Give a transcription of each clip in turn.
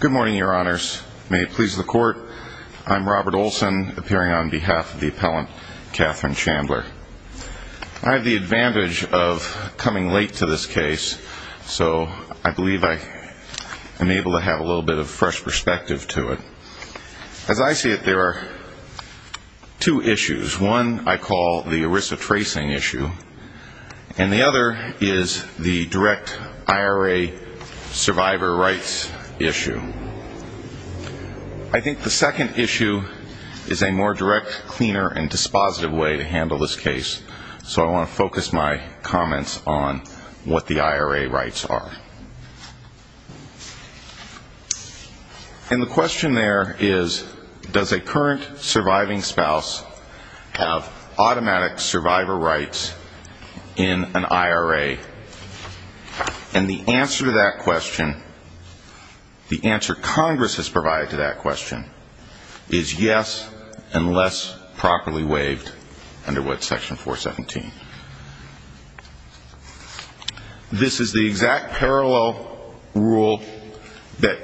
Good morning, your honors. May it please the court, I'm Robert Olson, appearing on behalf of the appellant Catherine Chandler. I have the advantage of coming late to this case, so I believe I am able to have a little bit of fresh perspective to it. As I see it, there are two issues. One I call the ERISA tracing issue, and the other is the direct IRA survivor rights issue. I think the second issue is a more direct, cleaner, and dispositive way to handle this case, so I want to focus my comments on what the IRA rights are. And the question there is, does a current surviving spouse have automatic survivor rights in an IRA? And the answer to that question, the answer Congress has provided to that question, is yes, unless properly waived under what section 417. This is the exact parallel rule that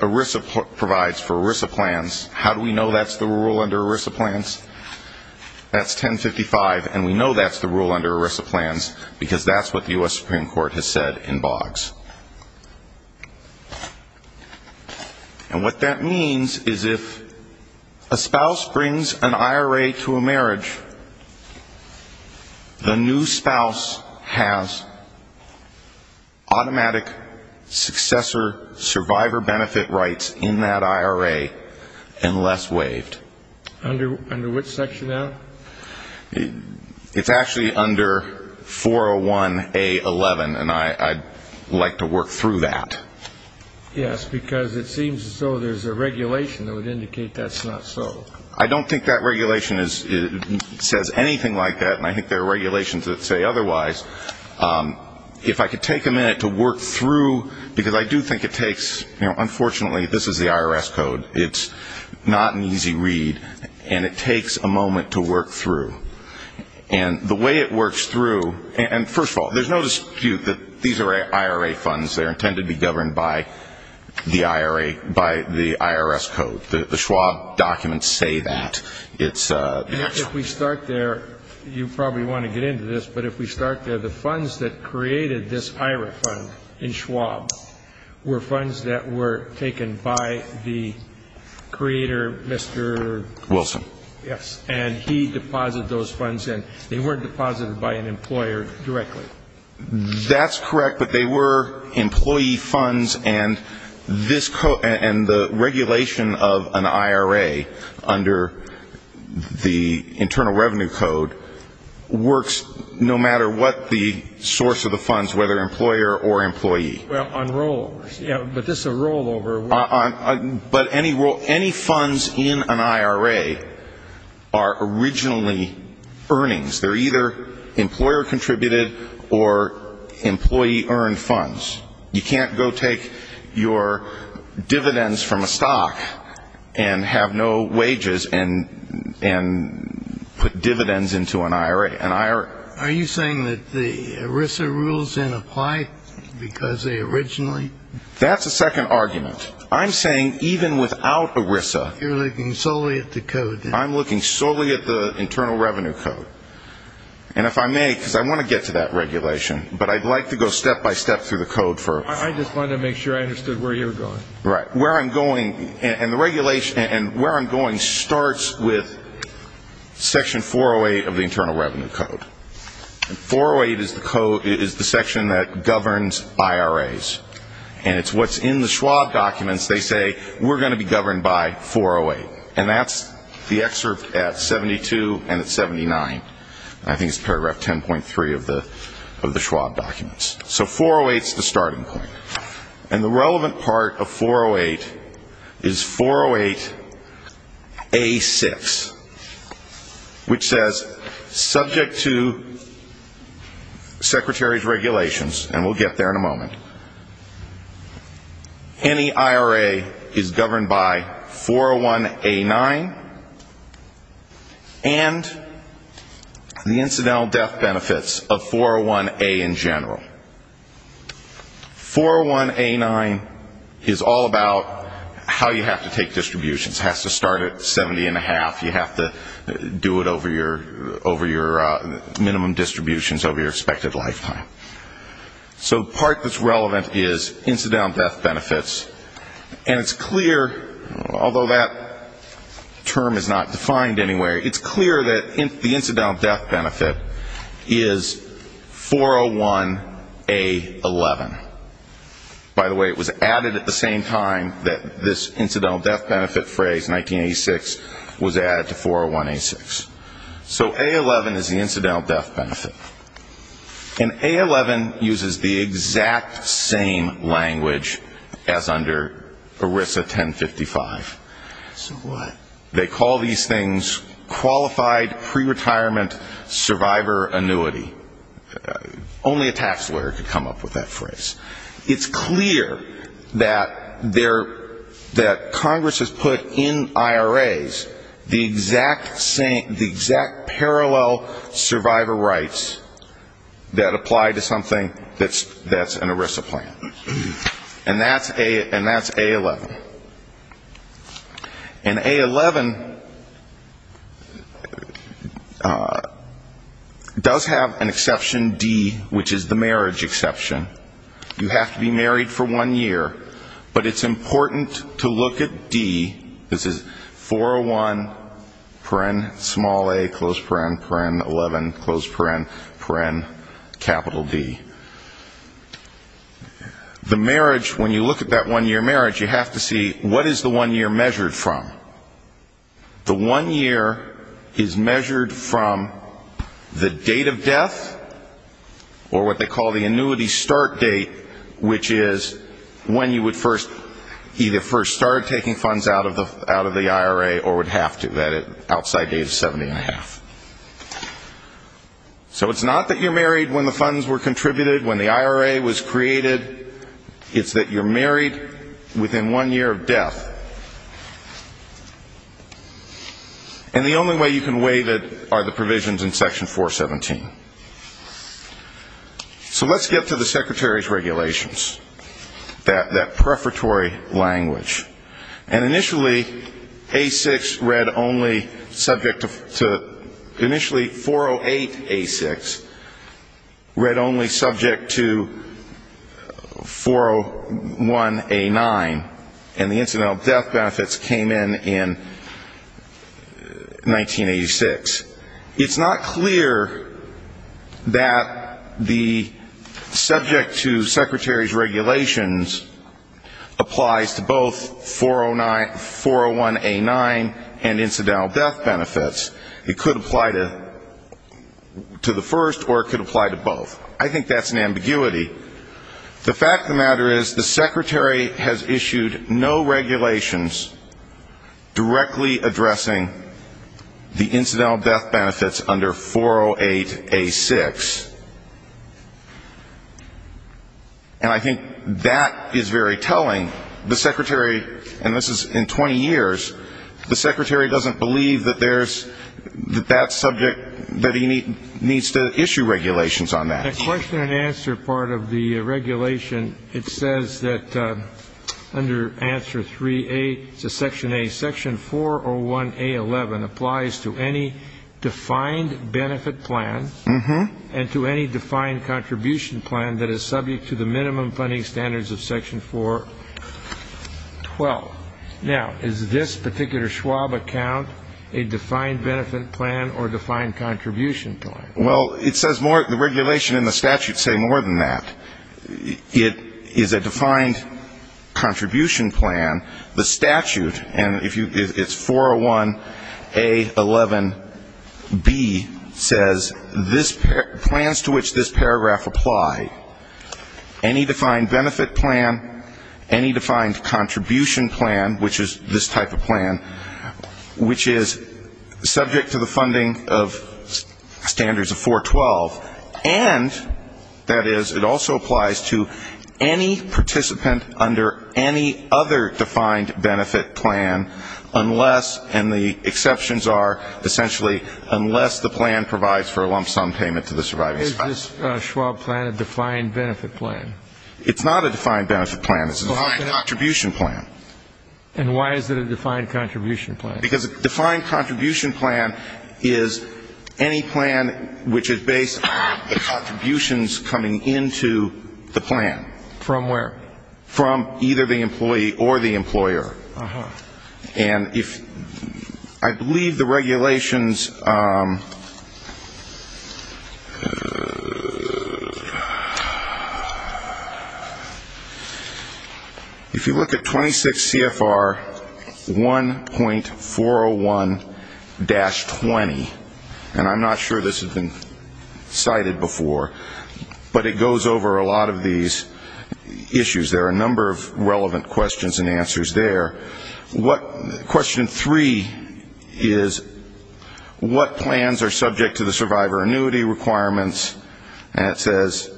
ERISA provides for ERISA plans. How do we know that's the rule under ERISA plans? That's 1055, and we know that's the rule under ERISA plans, because that's what the U.S. Supreme Court has said in Boggs. And what that means is if a spouse brings an IRA to a marriage, the new spouse has automatic successor survivor benefit rights in that IRA unless waived. Under which section now? It's actually under 401A11, and I'd like to work through that. Yes, because it seems as though there's a regulation that would indicate that's not so. I don't think that regulation says anything like that, and I think there are regulations that say otherwise. If I could take a minute to work through, because I do think it takes, you know, unfortunately, this is the IRS code. It's not an easy read, and it takes a moment to work through. And the way it works through, and first of all, there's no dispute that these are IRA funds. They're intended to be governed by the IRA, by the IRS code. The Schwab documents say that. If we start there, you probably want to get into this. But if we start there, the funds that created this IRA fund in Schwab were funds that were taken by the creator, Mr. Wilson. Yes, and he deposited those funds in. They weren't deposited by an employer directly. That's correct, but they were employee funds, and the regulation of an IRA under the Internal Revenue Code works no matter what the source of the funds, whether employer or employee. Well, on rolls. Yeah, but this is a rollover. But any funds in an IRA are originally earnings. They're either employer-contributed or employee-earned funds. You can't go take your dividends from a stock and have no wages and put dividends into an IRA. Are you saying that the ERISA rules didn't apply because they originally? That's a second argument. I'm saying even without ERISA. You're looking solely at the code. I'm looking solely at the Internal Revenue Code. And if I may, because I want to get to that regulation, but I'd like to go step-by-step through the code. I just wanted to make sure I understood where you were going. Right. Where I'm going, and where I'm going starts with Section 408 of the Internal Revenue Code. 408 is the section that governs IRAs, and it's what's in the Schwab documents. They say, we're going to be governed by 408. And that's the excerpt at 72 and at 79. I think it's paragraph 10.3 of the Schwab documents. So 408 is the starting point. And the relevant part of 408 is 408A6, which says, subject to Secretary's regulations, and we'll get there in a moment, any IRA is governed by 401A9 and the incidental death benefits of 401A in general. 401A9 is all about how you have to take distributions. It has to start at 70 and a half. You have to do it over your minimum distributions over your expected lifetime. So the part that's relevant is incidental death benefits. And it's clear, although that term is not defined anywhere, it's clear that the incidental death benefit is 401A11. By the way, it was added at the same time that this incidental death benefit phrase, 1986, was added to 401A6. So A11 is the incidental death benefit. And A11 uses the exact same language as under ERISA 1055. So what? They call these things qualified pre-retirement survivor annuity. Only a tax lawyer could come up with that phrase. It's clear that Congress has put in IRAs the exact parallel survivor rights that apply to something that's an ERISA plan. And that's A11. And A11 does have an exception, D, which is the marriage exception. You have to be married for one year, but it's important to look at D. This is 401, paren, small a, close paren, paren, 11, close paren, paren, capital D. The marriage, when you look at that one-year marriage, you have to see what is the one year measured from. The one year is measured from the date of death, or what they call the annuity start date, which is when you would either first start taking funds out of the IRA or would have to, that outside date of 70 and a half. So it's not that you're married when the funds were contributed, when the IRA was created. It's that you're married within one year of death. And the only way you can weigh that are the provisions in Section 417. So let's get to the Secretary's regulations, that prefatory language. And initially, A6 read only subject to, initially, 408A6 read only subject to 401A9. And the incidental death benefits came in in 1986. It's not clear that the subject to Secretary's regulations applies to both 401A9 and incidental death benefits. It could apply to the first, or it could apply to both. I think that's an ambiguity. The fact of the matter is the Secretary has issued no regulations directly addressing the incidental death benefits under 408A6. And I think that is very telling. The Secretary, and this is in 20 years, the Secretary doesn't believe that there's, that that subject, that he needs to issue regulations on that. The question-and-answer part of the regulation, it says that under answer 3A to Section A, Section 401A11 applies to any defined benefit plan and to any defined contribution plan that is subject to the minimum funding standards of Section 412. Now, is this particular Schwab account a defined benefit plan or defined contribution plan? Well, it says more, the regulation and the statute say more than that. It is a defined contribution plan. The statute, and it's 401A11B, says plans to which this paragraph apply, any defined benefit plan, any defined contribution plan, which is this type of plan, which is subject to the funding of standards of Section 412. And, that is, it also applies to any participant under any other defined benefit plan unless, and the exceptions are essentially unless the plan provides for a lump sum payment to the surviving spouse. Is this Schwab plan a defined benefit plan? It's not a defined benefit plan. It's a defined contribution plan. And why is it a defined contribution plan? Because a defined contribution plan is any plan which is based on the contributions coming into the plan. From where? From either the employee or the employer. And if, I believe the regulations, if you look at 26 CFR 1.401-20, and I'm not sure this has been cited before, but it goes over a lot of these issues. There are a number of relevant questions and answers there. What, question three is, what plans are subject to the survivor annuity requirements? And it says.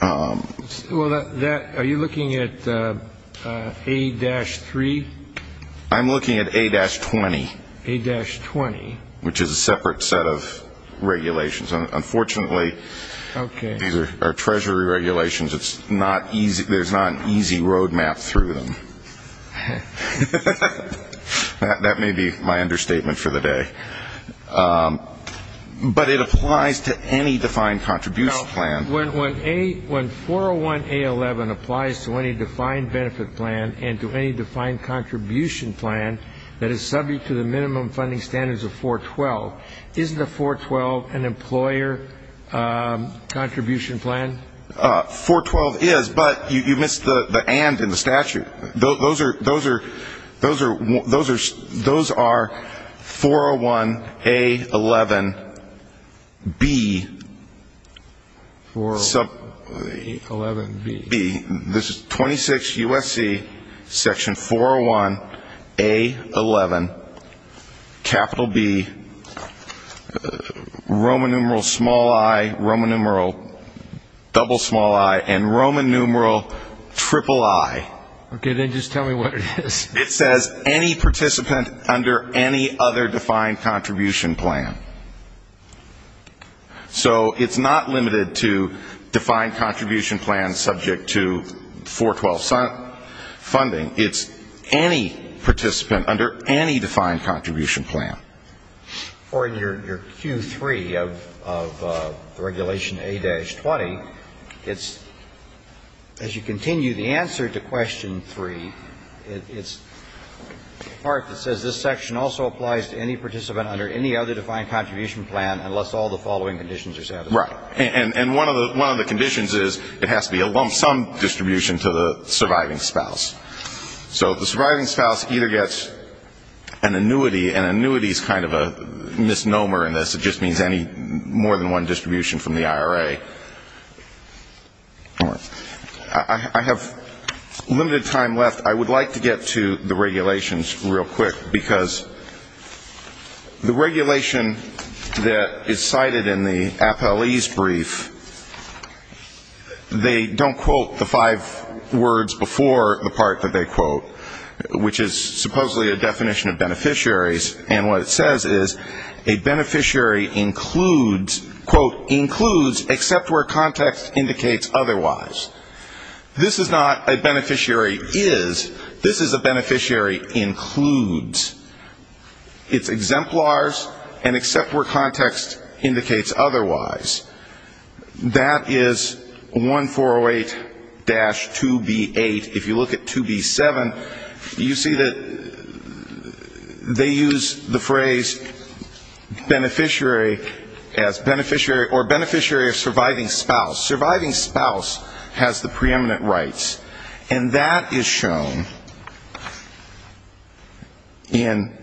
Well, that, are you looking at A-3? I'm looking at A-20. A-20. Which is a separate set of regulations. Unfortunately, these are Treasury regulations. There's not an easy road map through them. That may be my understatement for the day. But it applies to any defined contribution plan. When 401A11 applies to any defined benefit plan and to any defined contribution plan that is subject to the minimum funding standards of 412, isn't a 412 an employer contribution plan? 412 is, but you missed the and in the statute. Those are 401A11B. 401A11B. This is 26 U.S.C. Section 401A11, capital B, Roman numeral small i, Roman numeral double small i, and Roman numeral triple i. Okay, then just tell me what it is. It says any participant under any other defined contribution plan. So it's not limited to defined contribution plans subject to 412 funding. It's any participant under any defined contribution plan. Or in your Q3 of regulation A-20, it's, as you continue the answer to question 3, it's the part that says this section also applies to any participant under any other defined contribution plan. Right, and one of the conditions is it has to be a lump sum distribution to the surviving spouse. So the surviving spouse either gets an annuity, and annuity is kind of a misnomer in this. It just means any more than one distribution from the IRA. I have limited time left. I would like to get to the regulations real quick, because the regulation that is cited in the appellee's brief, they don't quote the five words before the part that they quote, which is supposedly a definition of beneficiaries, and what it says is a beneficiary includes, quote, includes except where context indicates otherwise. This is not a beneficiary is, this is a beneficiary includes. It's exemplars and except where context indicates otherwise. That is 1408-2B8. If you look at 2B7, you see that they use the phrase beneficiary as beneficiary or beneficiary of surviving spouse. Surviving spouse has the preeminent rights, and that is shown in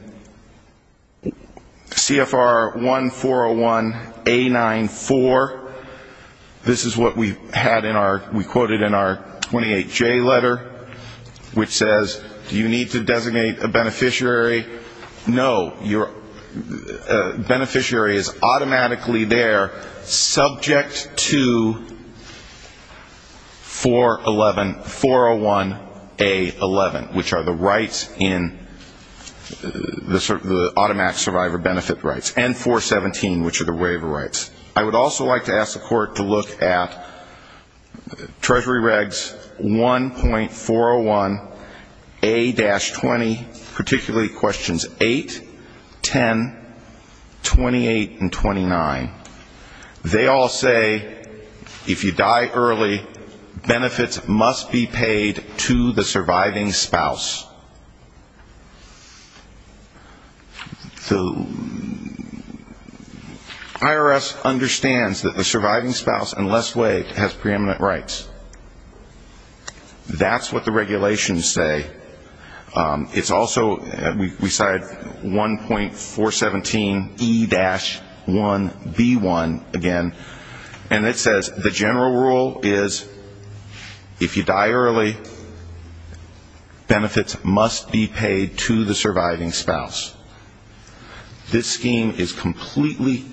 CFR 1401A94. This is what we had in our, we quoted in our 28J letter, which says, do you need to designate a beneficiary? No, your beneficiary is automatically there, subject to the definition of beneficiary. And I would also like to ask the Court to look at 2B411401A11, which are the rights in the automatic survivor benefit rights, and 417, which are the waiver rights. I would also like to ask the Court to look at Treasury Regs 1.401A-20, particularly questions 8, 10, 28, and 29. They all say if you die early, benefits must be paid to the surviving spouse. The IRS understands that the surviving spouse, unless waived, has preeminent rights. That's what the regulations say. It's also, we cite 1.417E-1B1 again, and it says the general rule is if you die early, benefits must be paid to the surviving spouse. This scheme is completely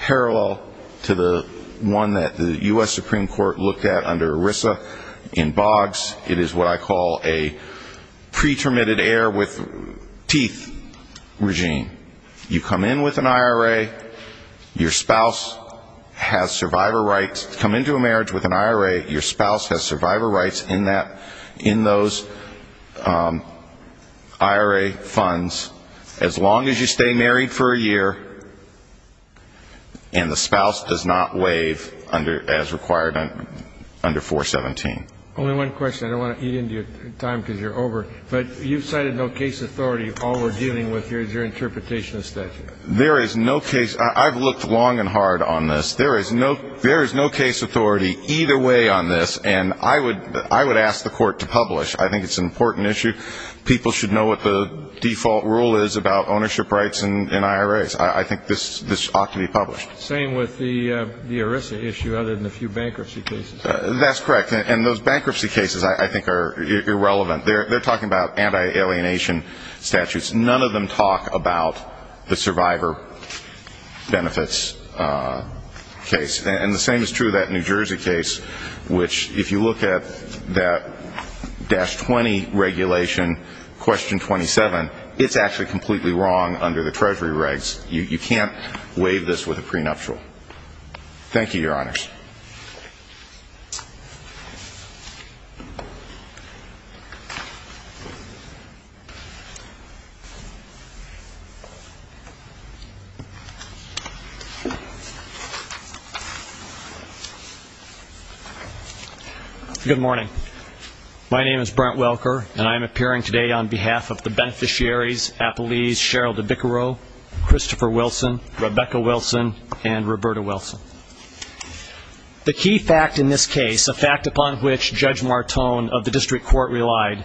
parallel to the one that the U.S. Supreme Court looked at under ERISA in Boggs. It is what I call a pretermitted heir with teeth regime. You come in with an IRA, your spouse has survivor rights, come into a marriage with an IRA, your spouse has survivor rights in those IRA funds, as long as you stay married for a year, and the spouse does not waive as required under 417. Only one question, I don't want to eat into your time because you're over, but you've cited no case authority. All we're dealing with here is your interpretation of statute. There is no case – I've looked long and hard on this. There is no case authority either way on this, and I would ask the Court to publish. I think it's an important issue. People should know what the default rule is about ownership rights in IRAs. I think this ought to be published. Same with the ERISA issue, other than a few bankruptcy cases. That's correct, and those bankruptcy cases I think are irrelevant. They're talking about anti-alienation statutes. None of them talk about the survivor benefits case. And the same is true of that New Jersey case, which if you look at that dash 20 regulation, question 27, it's actually completely wrong under the Treasury regs. You can't waive this with a prenuptial. Thank you, Your Honors. Good morning. My name is Brent Welker, and I am appearing today on behalf of the beneficiaries, Appalese Cheryl DeBiccaro, Christopher Wilson, Rebecca Wilson, and Roberta Wilson. The key fact in this case, a fact upon which Judge Martone of the District Court relied,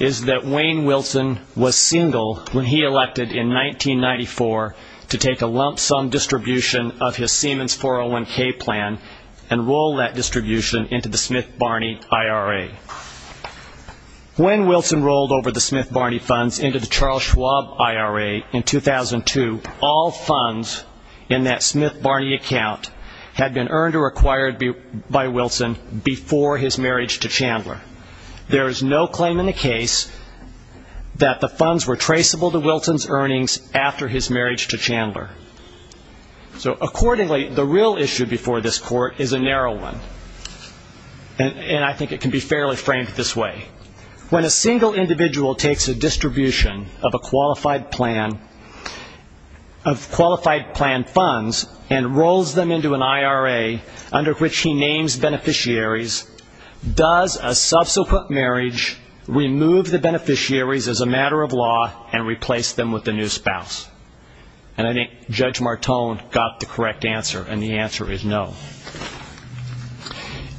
is that Wayne Wilson was single when he elected in 1994 to take a lump sum distribution of his Siemens 401k plan and roll that distribution into the Smith-Barney IRA. When Wilson rolled over the Smith-Barney funds into the Charles Schwab IRA in 2002, all funds in that Smith-Barney account had been earned or acquired by Wilson before his marriage to Chandler. There is no claim in the case that the funds were traceable to Wilson's earnings after his marriage to Chandler. So accordingly, the real issue before this Court is a narrow one, and I think it can be fairly framed this way. When a single individual takes a distribution of a qualified plan, of qualified plan funds, and rolls them into an IRA under which he names beneficiaries, does a subsequent marriage remove the beneficiaries as a matter of law and replace them with a new spouse? And I think Judge Martone got the correct answer, and the answer is no.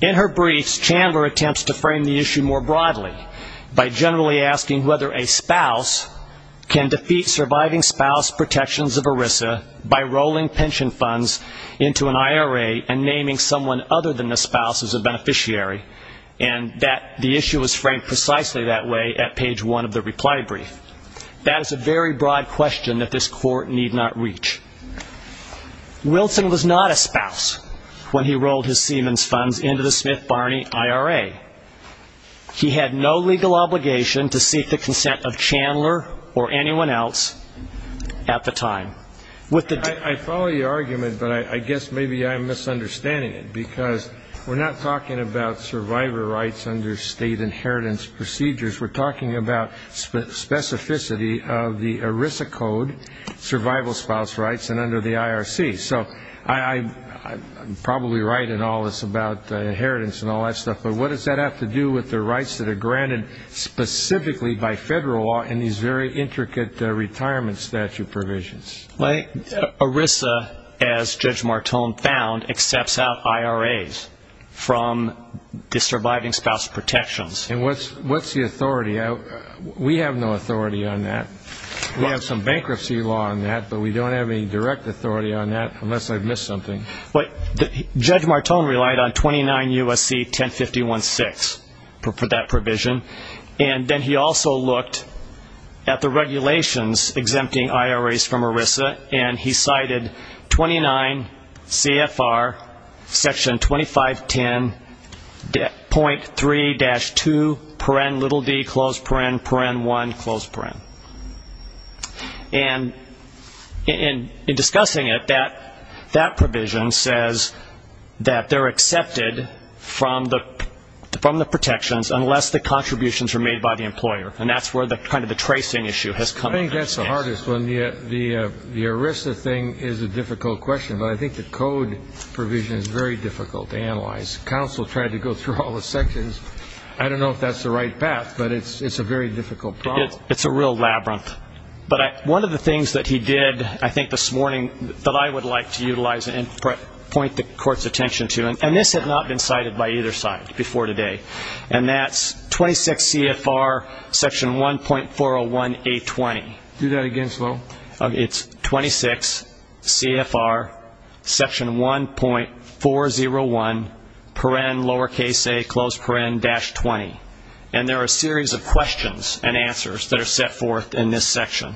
In her briefs, Chandler attempts to frame the issue more broadly, by generally asking whether a spouse can defeat surviving spouse protections of ERISA by rolling pension funds into an IRA and naming someone other than the spouse as a beneficiary, and the issue is framed precisely that way at page one of the reply brief. That is a very broad question that this Court need not reach. Wilson was not a spouse when he rolled his Siemens funds into the Smith-Barney IRA. He had no legal obligation to seek the consent of Chandler or anyone else at the time. I follow your argument, but I guess maybe I'm misunderstanding it, because we're not talking about survivor rights under state inheritance procedures, we're talking about specificity of the ERISA code, survival spouse rights, and under the IRC. So I'm probably right in all this about inheritance and all that stuff, but what does that have to do with the rights that are granted specifically by Federal law and these very intricate retirement statute provisions? ERISA, as Judge Martone found, accepts out IRAs from the surviving spouse protections. And what's the authority? We have no authority on that. We have some bankruptcy law on that, but we don't have any direct authority on that, unless I've missed something. Judge Martone relied on 29 U.S.C. 1051-6 for that provision, and then he also looked at the regulations exempting IRAs from ERISA, and he cited 29 CFR section 2510.3-2, paren, little d, close paren, paren 1, close paren. And in discussing it, that provision says that they're accepted from the protections unless the contributions are made by the employer, and that's where kind of the tracing issue has come up. I think that's the hardest one. The ERISA thing is a difficult question, but I think the code provision is very difficult to analyze. Counsel tried to go through all the sections. I don't know if that's the right path, but it's a very difficult problem. It's a real labyrinth. But one of the things that he did I think this morning that I would like to utilize and point the court's attention to, and this had not been cited by either side before today, and that's 26 CFR section 1.401A20. Do that again, Sloan. It's 26 CFR section 1.401, paren, lowercase a, close paren, dash 20, and there are a series of questions and answers that are set forth in this section.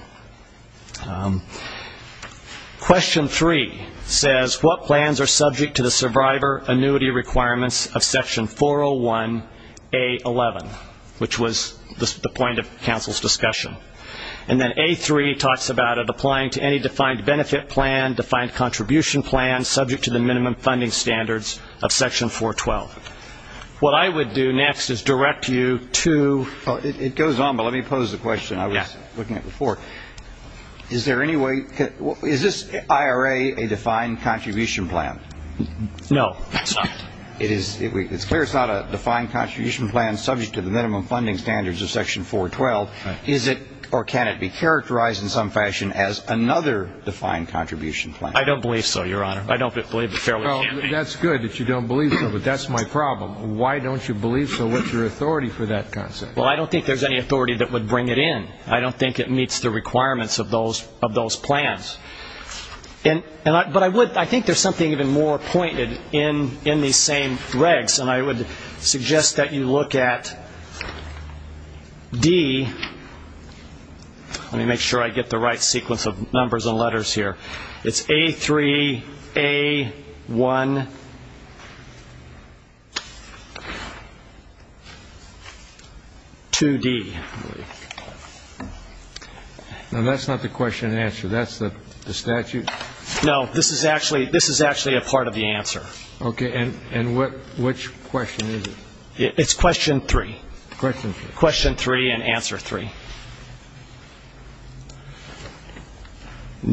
Question 3 says what plans are subject to the survivor annuity requirements of section 401A11, which was the point of counsel's discussion. And then A3 talks about it applying to any defined benefit plan, defined contribution plan subject to the minimum funding standards of section 412. What I would do next is direct you to it goes on, but let me pose the question I was looking at before. Is there any way is this IRA a defined contribution plan? No, it's not. It's clear it's not a defined contribution plan subject to the minimum funding standards of section 412. Is it or can it be characterized in some fashion as another defined contribution plan? I don't believe so, Your Honor. Well, that's good that you don't believe so, but that's my problem. Why don't you believe so? What's your authority for that concept? Well, I don't think there's any authority that would bring it in. I don't think it meets the requirements of those plans. But I think there's something even more pointed in these same regs, and I would suggest that you look at D. Let me make sure I get the right sequence of numbers and letters here. It's A3A12D. Now, that's not the question and answer. That's the statute? No, this is actually a part of the answer. Okay, and which question is it? It's question three. Question three and answer three.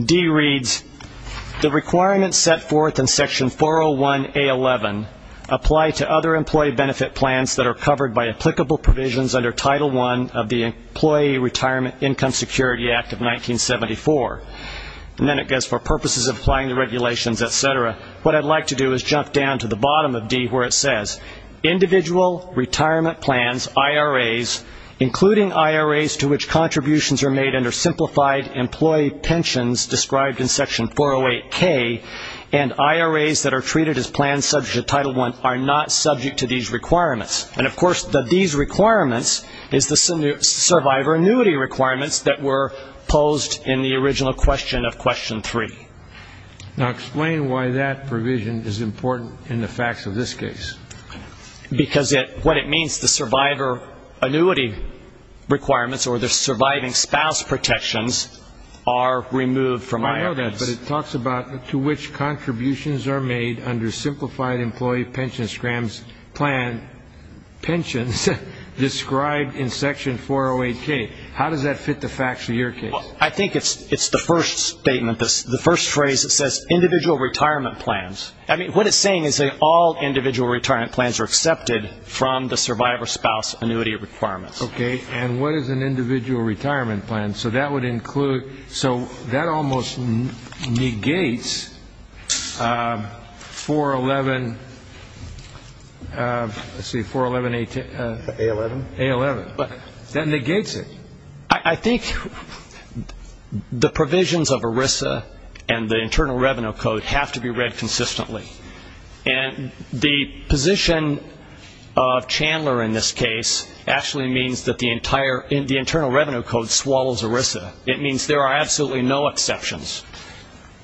D reads, the requirements set forth in section 401A11 apply to other employee benefit plans that are covered by applicable provisions under Title I of the Employee Retirement Income Security Act of 1974. And then it goes for purposes of applying the regulations, et cetera. What I'd like to do is jump down to the bottom of D where it says, individual retirement plans, IRAs, including IRAs to which contributions are made under simplified employee pensions described in section 408K, and IRAs that are treated as plans subject to Title I are not subject to these requirements. And, of course, these requirements is the survivor annuity requirements that were posed in the original question of question three. Now, explain why that provision is important in the facts of this case. Because what it means, the survivor annuity requirements or the surviving spouse protections are removed from IRAs. I know that, but it talks about to which contributions are made under simplified employee pension scrams plan pensions described in section 408K. How does that fit the facts of your case? Well, I think it's the first statement, the first phrase that says individual retirement plans. I mean, what it's saying is that all individual retirement plans are accepted from the survivor spouse annuity requirements. Okay. And what is an individual retirement plan? So that would include, so that almost negates 411, let's see, 411A10. A11. A11. That negates it. I think the provisions of ERISA and the Internal Revenue Code have to be read consistently. And the position of Chandler in this case actually means that the Internal Revenue Code swallows ERISA. It means there are absolutely no exceptions.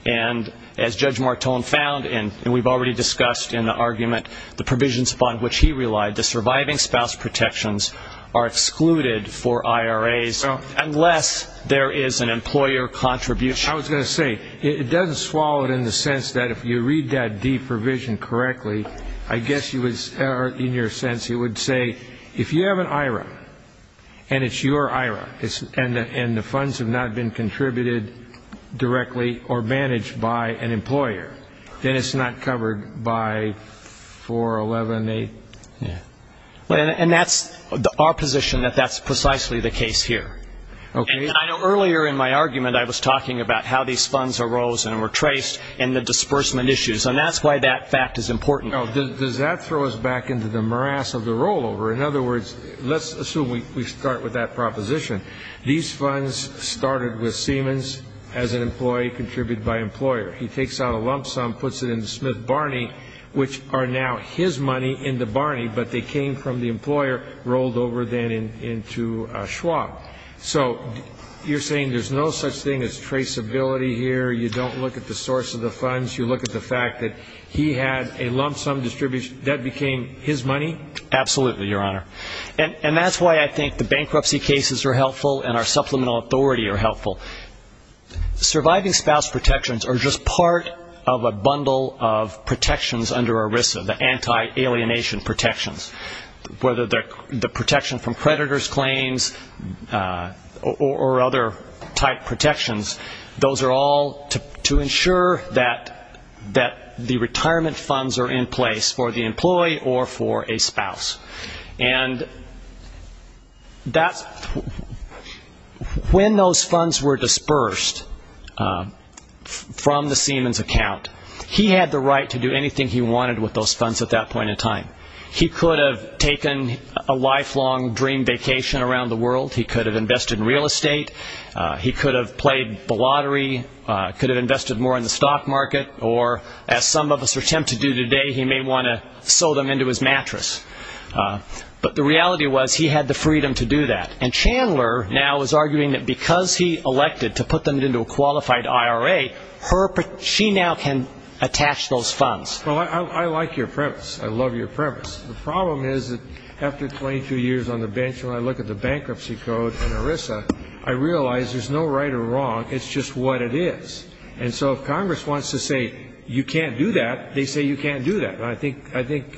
And as Judge Martone found, and we've already discussed in the argument, the provisions upon which he relied, the surviving spouse protections are excluded for IRAs unless there is an employer contribution. I was going to say, it doesn't swallow it in the sense that if you read that D provision correctly, I guess you would, in your sense, you would say if you have an IRA and it's your IRA, and the funds have not been contributed directly or managed by an employer, then it's not covered by 411A. And that's our position that that's precisely the case here. Okay. And I know earlier in my argument I was talking about how these funds arose and were traced in the disbursement issues, and that's why that fact is important. Does that throw us back into the morass of the rollover? In other words, let's assume we start with that proposition. These funds started with Siemens as an employee contributed by employer. He takes out a lump sum, puts it into Smith Barney, which are now his money in the Barney, but they came from the employer, rolled over then into Schwab. So you're saying there's no such thing as traceability here, you don't look at the source of the funds, you look at the fact that he had a lump sum distribution, that became his money? Absolutely, Your Honor. And that's why I think the bankruptcy cases are helpful and our supplemental authority are helpful. Surviving spouse protections are just part of a bundle of protections under ERISA, the anti-alienation protections. Whether they're the protection from predator's claims or other type protections, those are all to ensure that the retirement funds are in place for the employee or for a spouse. And when those funds were dispersed from the Siemens account, he had the right to do anything he wanted with those funds at that point in time. He could have taken a lifelong dream vacation around the world, he could have invested in real estate, he could have played the lottery, could have invested more in the stock market, or as some of us are tempted to do today, he may want to sew them into his mattress. But the reality was he had the freedom to do that. And Chandler now is arguing that because he elected to put them into a qualified IRA, she now can attach those funds. Well, I like your premise, I love your premise. The problem is that after 22 years on the bench and I look at the bankruptcy code and ERISA, I realize there's no right or wrong, it's just what it is. And so if Congress wants to say you can't do that, they say you can't do that. I think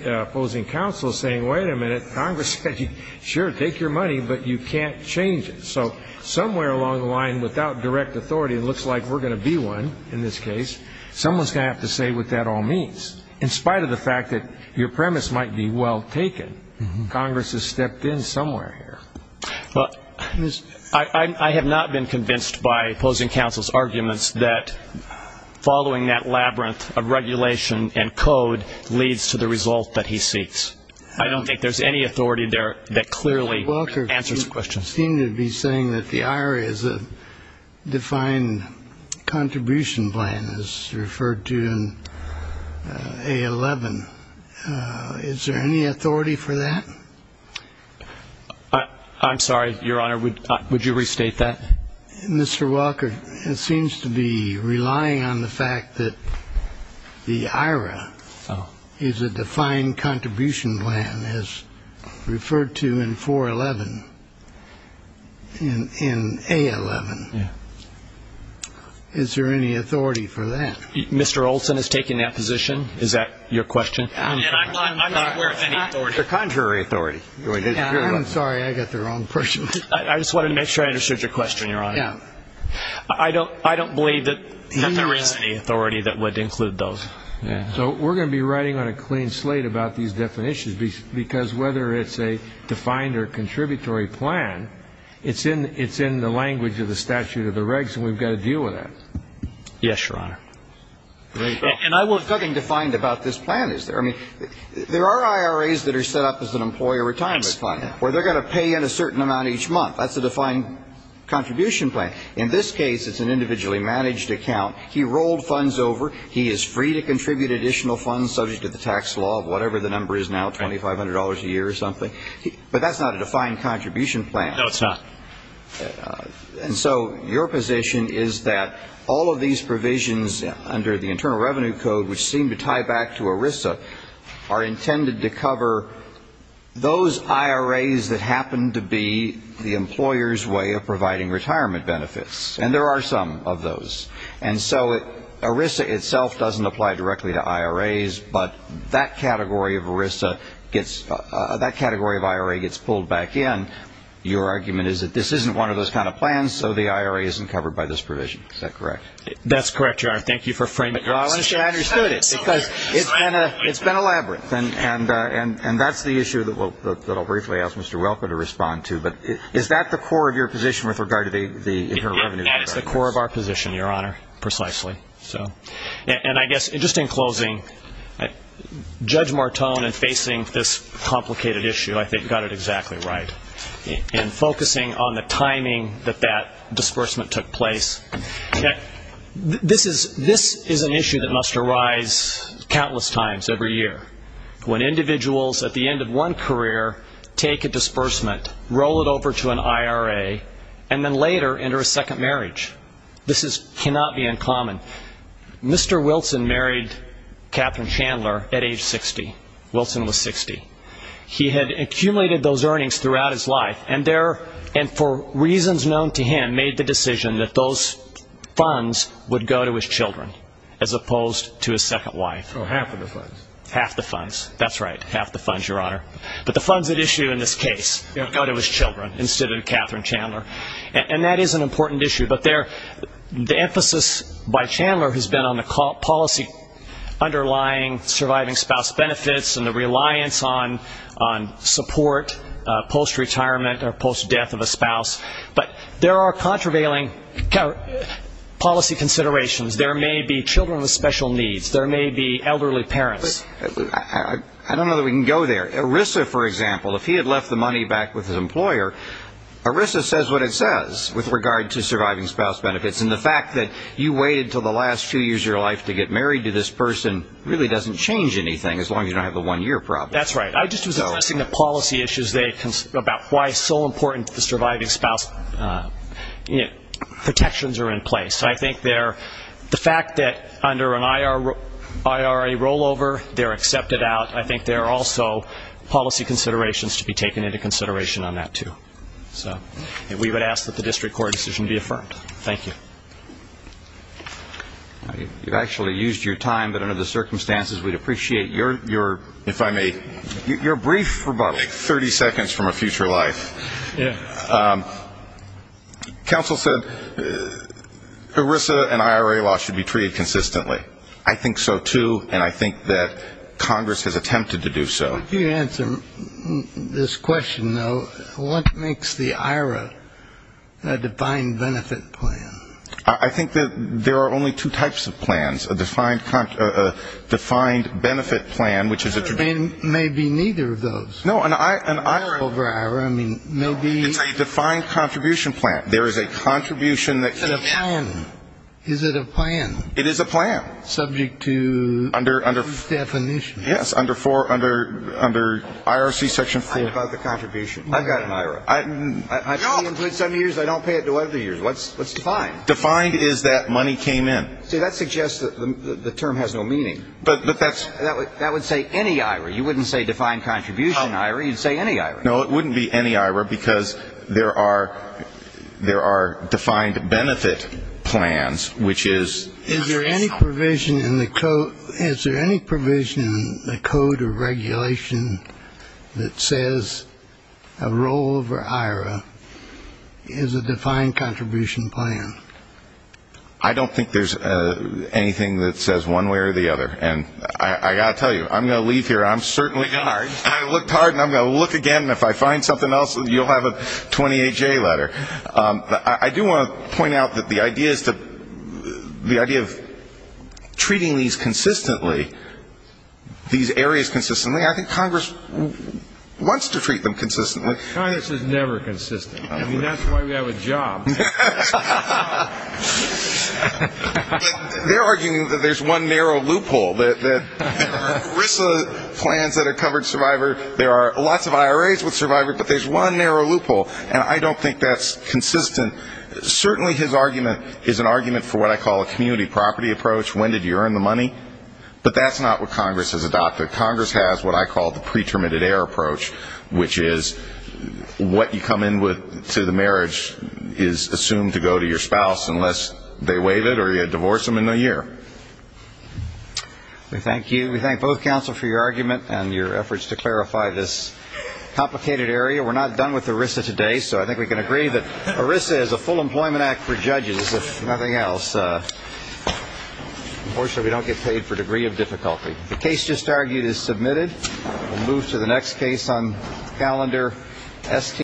opposing counsel is saying wait a minute, Congress said sure, take your money, but you can't change it. So somewhere along the line without direct authority, it looks like we're going to be one in this case, someone is going to have to say what that all means. In spite of the fact that your premise might be well taken, Congress has stepped in somewhere here. I have not been convinced by opposing counsel's arguments that following that labyrinth of regulation and code leads to the result that he seeks. I don't think there's any authority there that clearly answers questions. You seem to be saying that the IRA is a defined contribution plan as referred to in A11. Is there any authority for that? I'm sorry, Your Honor, would you restate that? Mr. Walker, it seems to be relying on the fact that the IRA is a defined contribution plan as referred to in 411, in A11. Is there any authority for that? Mr. Olson is taking that position. Is that your question? I'm not aware of any authority. The contrary authority. I'm sorry, I got the wrong person. I just wanted to make sure I understood your question, Your Honor. I don't believe that there is any authority that would include those. So we're going to be writing on a clean slate about these definitions because whether it's a defined or contributory plan, it's in the language of the statute of the regs and we've got to deal with that. Yes, Your Honor. And I want something defined about this plan, is there? I mean, there are IRAs that are set up as an employer retirement plan where they're going to pay in a certain amount each month. That's a defined contribution plan. In this case, it's an individually managed account. He rolled funds over. He is free to contribute additional funds subject to the tax law of whatever the number is now, $2,500 a year or something. But that's not a defined contribution plan. No, it's not. And so your position is that all of these provisions under the Internal Revenue Code, which seem to tie back to ERISA, are intended to cover those IRAs that happen to be the employer's way of providing retirement benefits. And there are some of those. And so ERISA itself doesn't apply directly to IRAs, but that category of ERISA gets – that category of IRA gets pulled back in. And your argument is that this isn't one of those kind of plans, so the IRA isn't covered by this provision. Is that correct? That's correct, Your Honor. Thank you for framing it. Well, I'm sure I understood it because it's been elaborate. And that's the issue that I'll briefly ask Mr. Welker to respond to. But is that the core of your position with regard to the Internal Revenue Code? That is the core of our position, Your Honor, precisely. And I guess just in closing, Judge Martone in facing this complicated issue, I think, got it exactly right. In focusing on the timing that that disbursement took place, this is an issue that must arise countless times every year, when individuals at the end of one career take a disbursement, roll it over to an IRA, and then later enter a second marriage. This cannot be uncommon. Mr. Wilson married Catherine Chandler at age 60. Wilson was 60. He had accumulated those earnings throughout his life, and for reasons known to him made the decision that those funds would go to his children, as opposed to his second wife. Oh, half of the funds. Half the funds. That's right. Half the funds, Your Honor. But the funds at issue in this case go to his children instead of Catherine Chandler. And that is an important issue. But the emphasis by Chandler has been on the policy underlying surviving spouse benefits and the reliance on support post-retirement or post-death of a spouse. But there are contravailing policy considerations. There may be children with special needs. There may be elderly parents. I don't know that we can go there. ERISA, for example, if he had left the money back with his employer, ERISA says what it says with regard to surviving spouse benefits. And the fact that you waited until the last few years of your life to get married to this person really doesn't change anything as long as you don't have the one-year problem. That's right. I just was addressing the policy issues about why it's so important that the surviving spouse protections are in place. I think the fact that under an IRA rollover they're accepted out, I think there are also policy considerations to be taken into consideration on that, too. So we would ask that the district court decision be affirmed. Thank you. You've actually used your time, but under the circumstances we'd appreciate your, if I may, your brief rebuttal, like 30 seconds from a future life. Counsel said ERISA and IRA law should be treated consistently. I think so, too, and I think that Congress has attempted to do so. If you answer this question, though, what makes the IRA a defined benefit plan? I think that there are only two types of plans. A defined benefit plan, which is a to be. Maybe neither of those. No, an IRA. IRA over IRA. It's a defined contribution plan. There is a contribution that can be. Is it a plan? It is a plan. Subject to definition. Yes, under IRC section 4. I'm talking about the contribution. I've got an IRA. No. I only include some years. I don't pay it to other years. What's defined? Defined is that money came in. See, that suggests that the term has no meaning. But that's. That would say any IRA. You wouldn't say defined contribution IRA. You'd say any IRA. No, it wouldn't be any IRA because there are defined benefit plans, which is. Is there any provision in the code of regulation that says a rollover IRA is a defined contribution plan? I don't think there's anything that says one way or the other. And I've got to tell you, I'm going to leave here. I looked hard and I'm going to look again, and if I find something else, you'll have a 28-J letter. I do want to point out that the idea of treating these areas consistently, I think Congress wants to treat them consistently. Congress is never consistent. I mean, that's why we have a job. They're arguing that there's one narrow loophole, that there are RISA plans that are covered survivor. There are lots of IRAs with survivor, but there's one narrow loophole. And I don't think that's consistent. Certainly his argument is an argument for what I call a community property approach. When did you earn the money? But that's not what Congress has adopted. Congress has what I call the pre-terminated heir approach, which is what you come in with to the marriage is the assumed to go to your spouse unless they waive it or you divorce them in a year. We thank you. We thank both counsel for your argument and your efforts to clarify this complicated area. We're not done with the RISA today, so I think we can agree that RISA is a full employment act for judges, if nothing else. Unfortunately, we don't get paid for degree of difficulty. The case just argued is submitted. We'll move to the next case on calendar ST.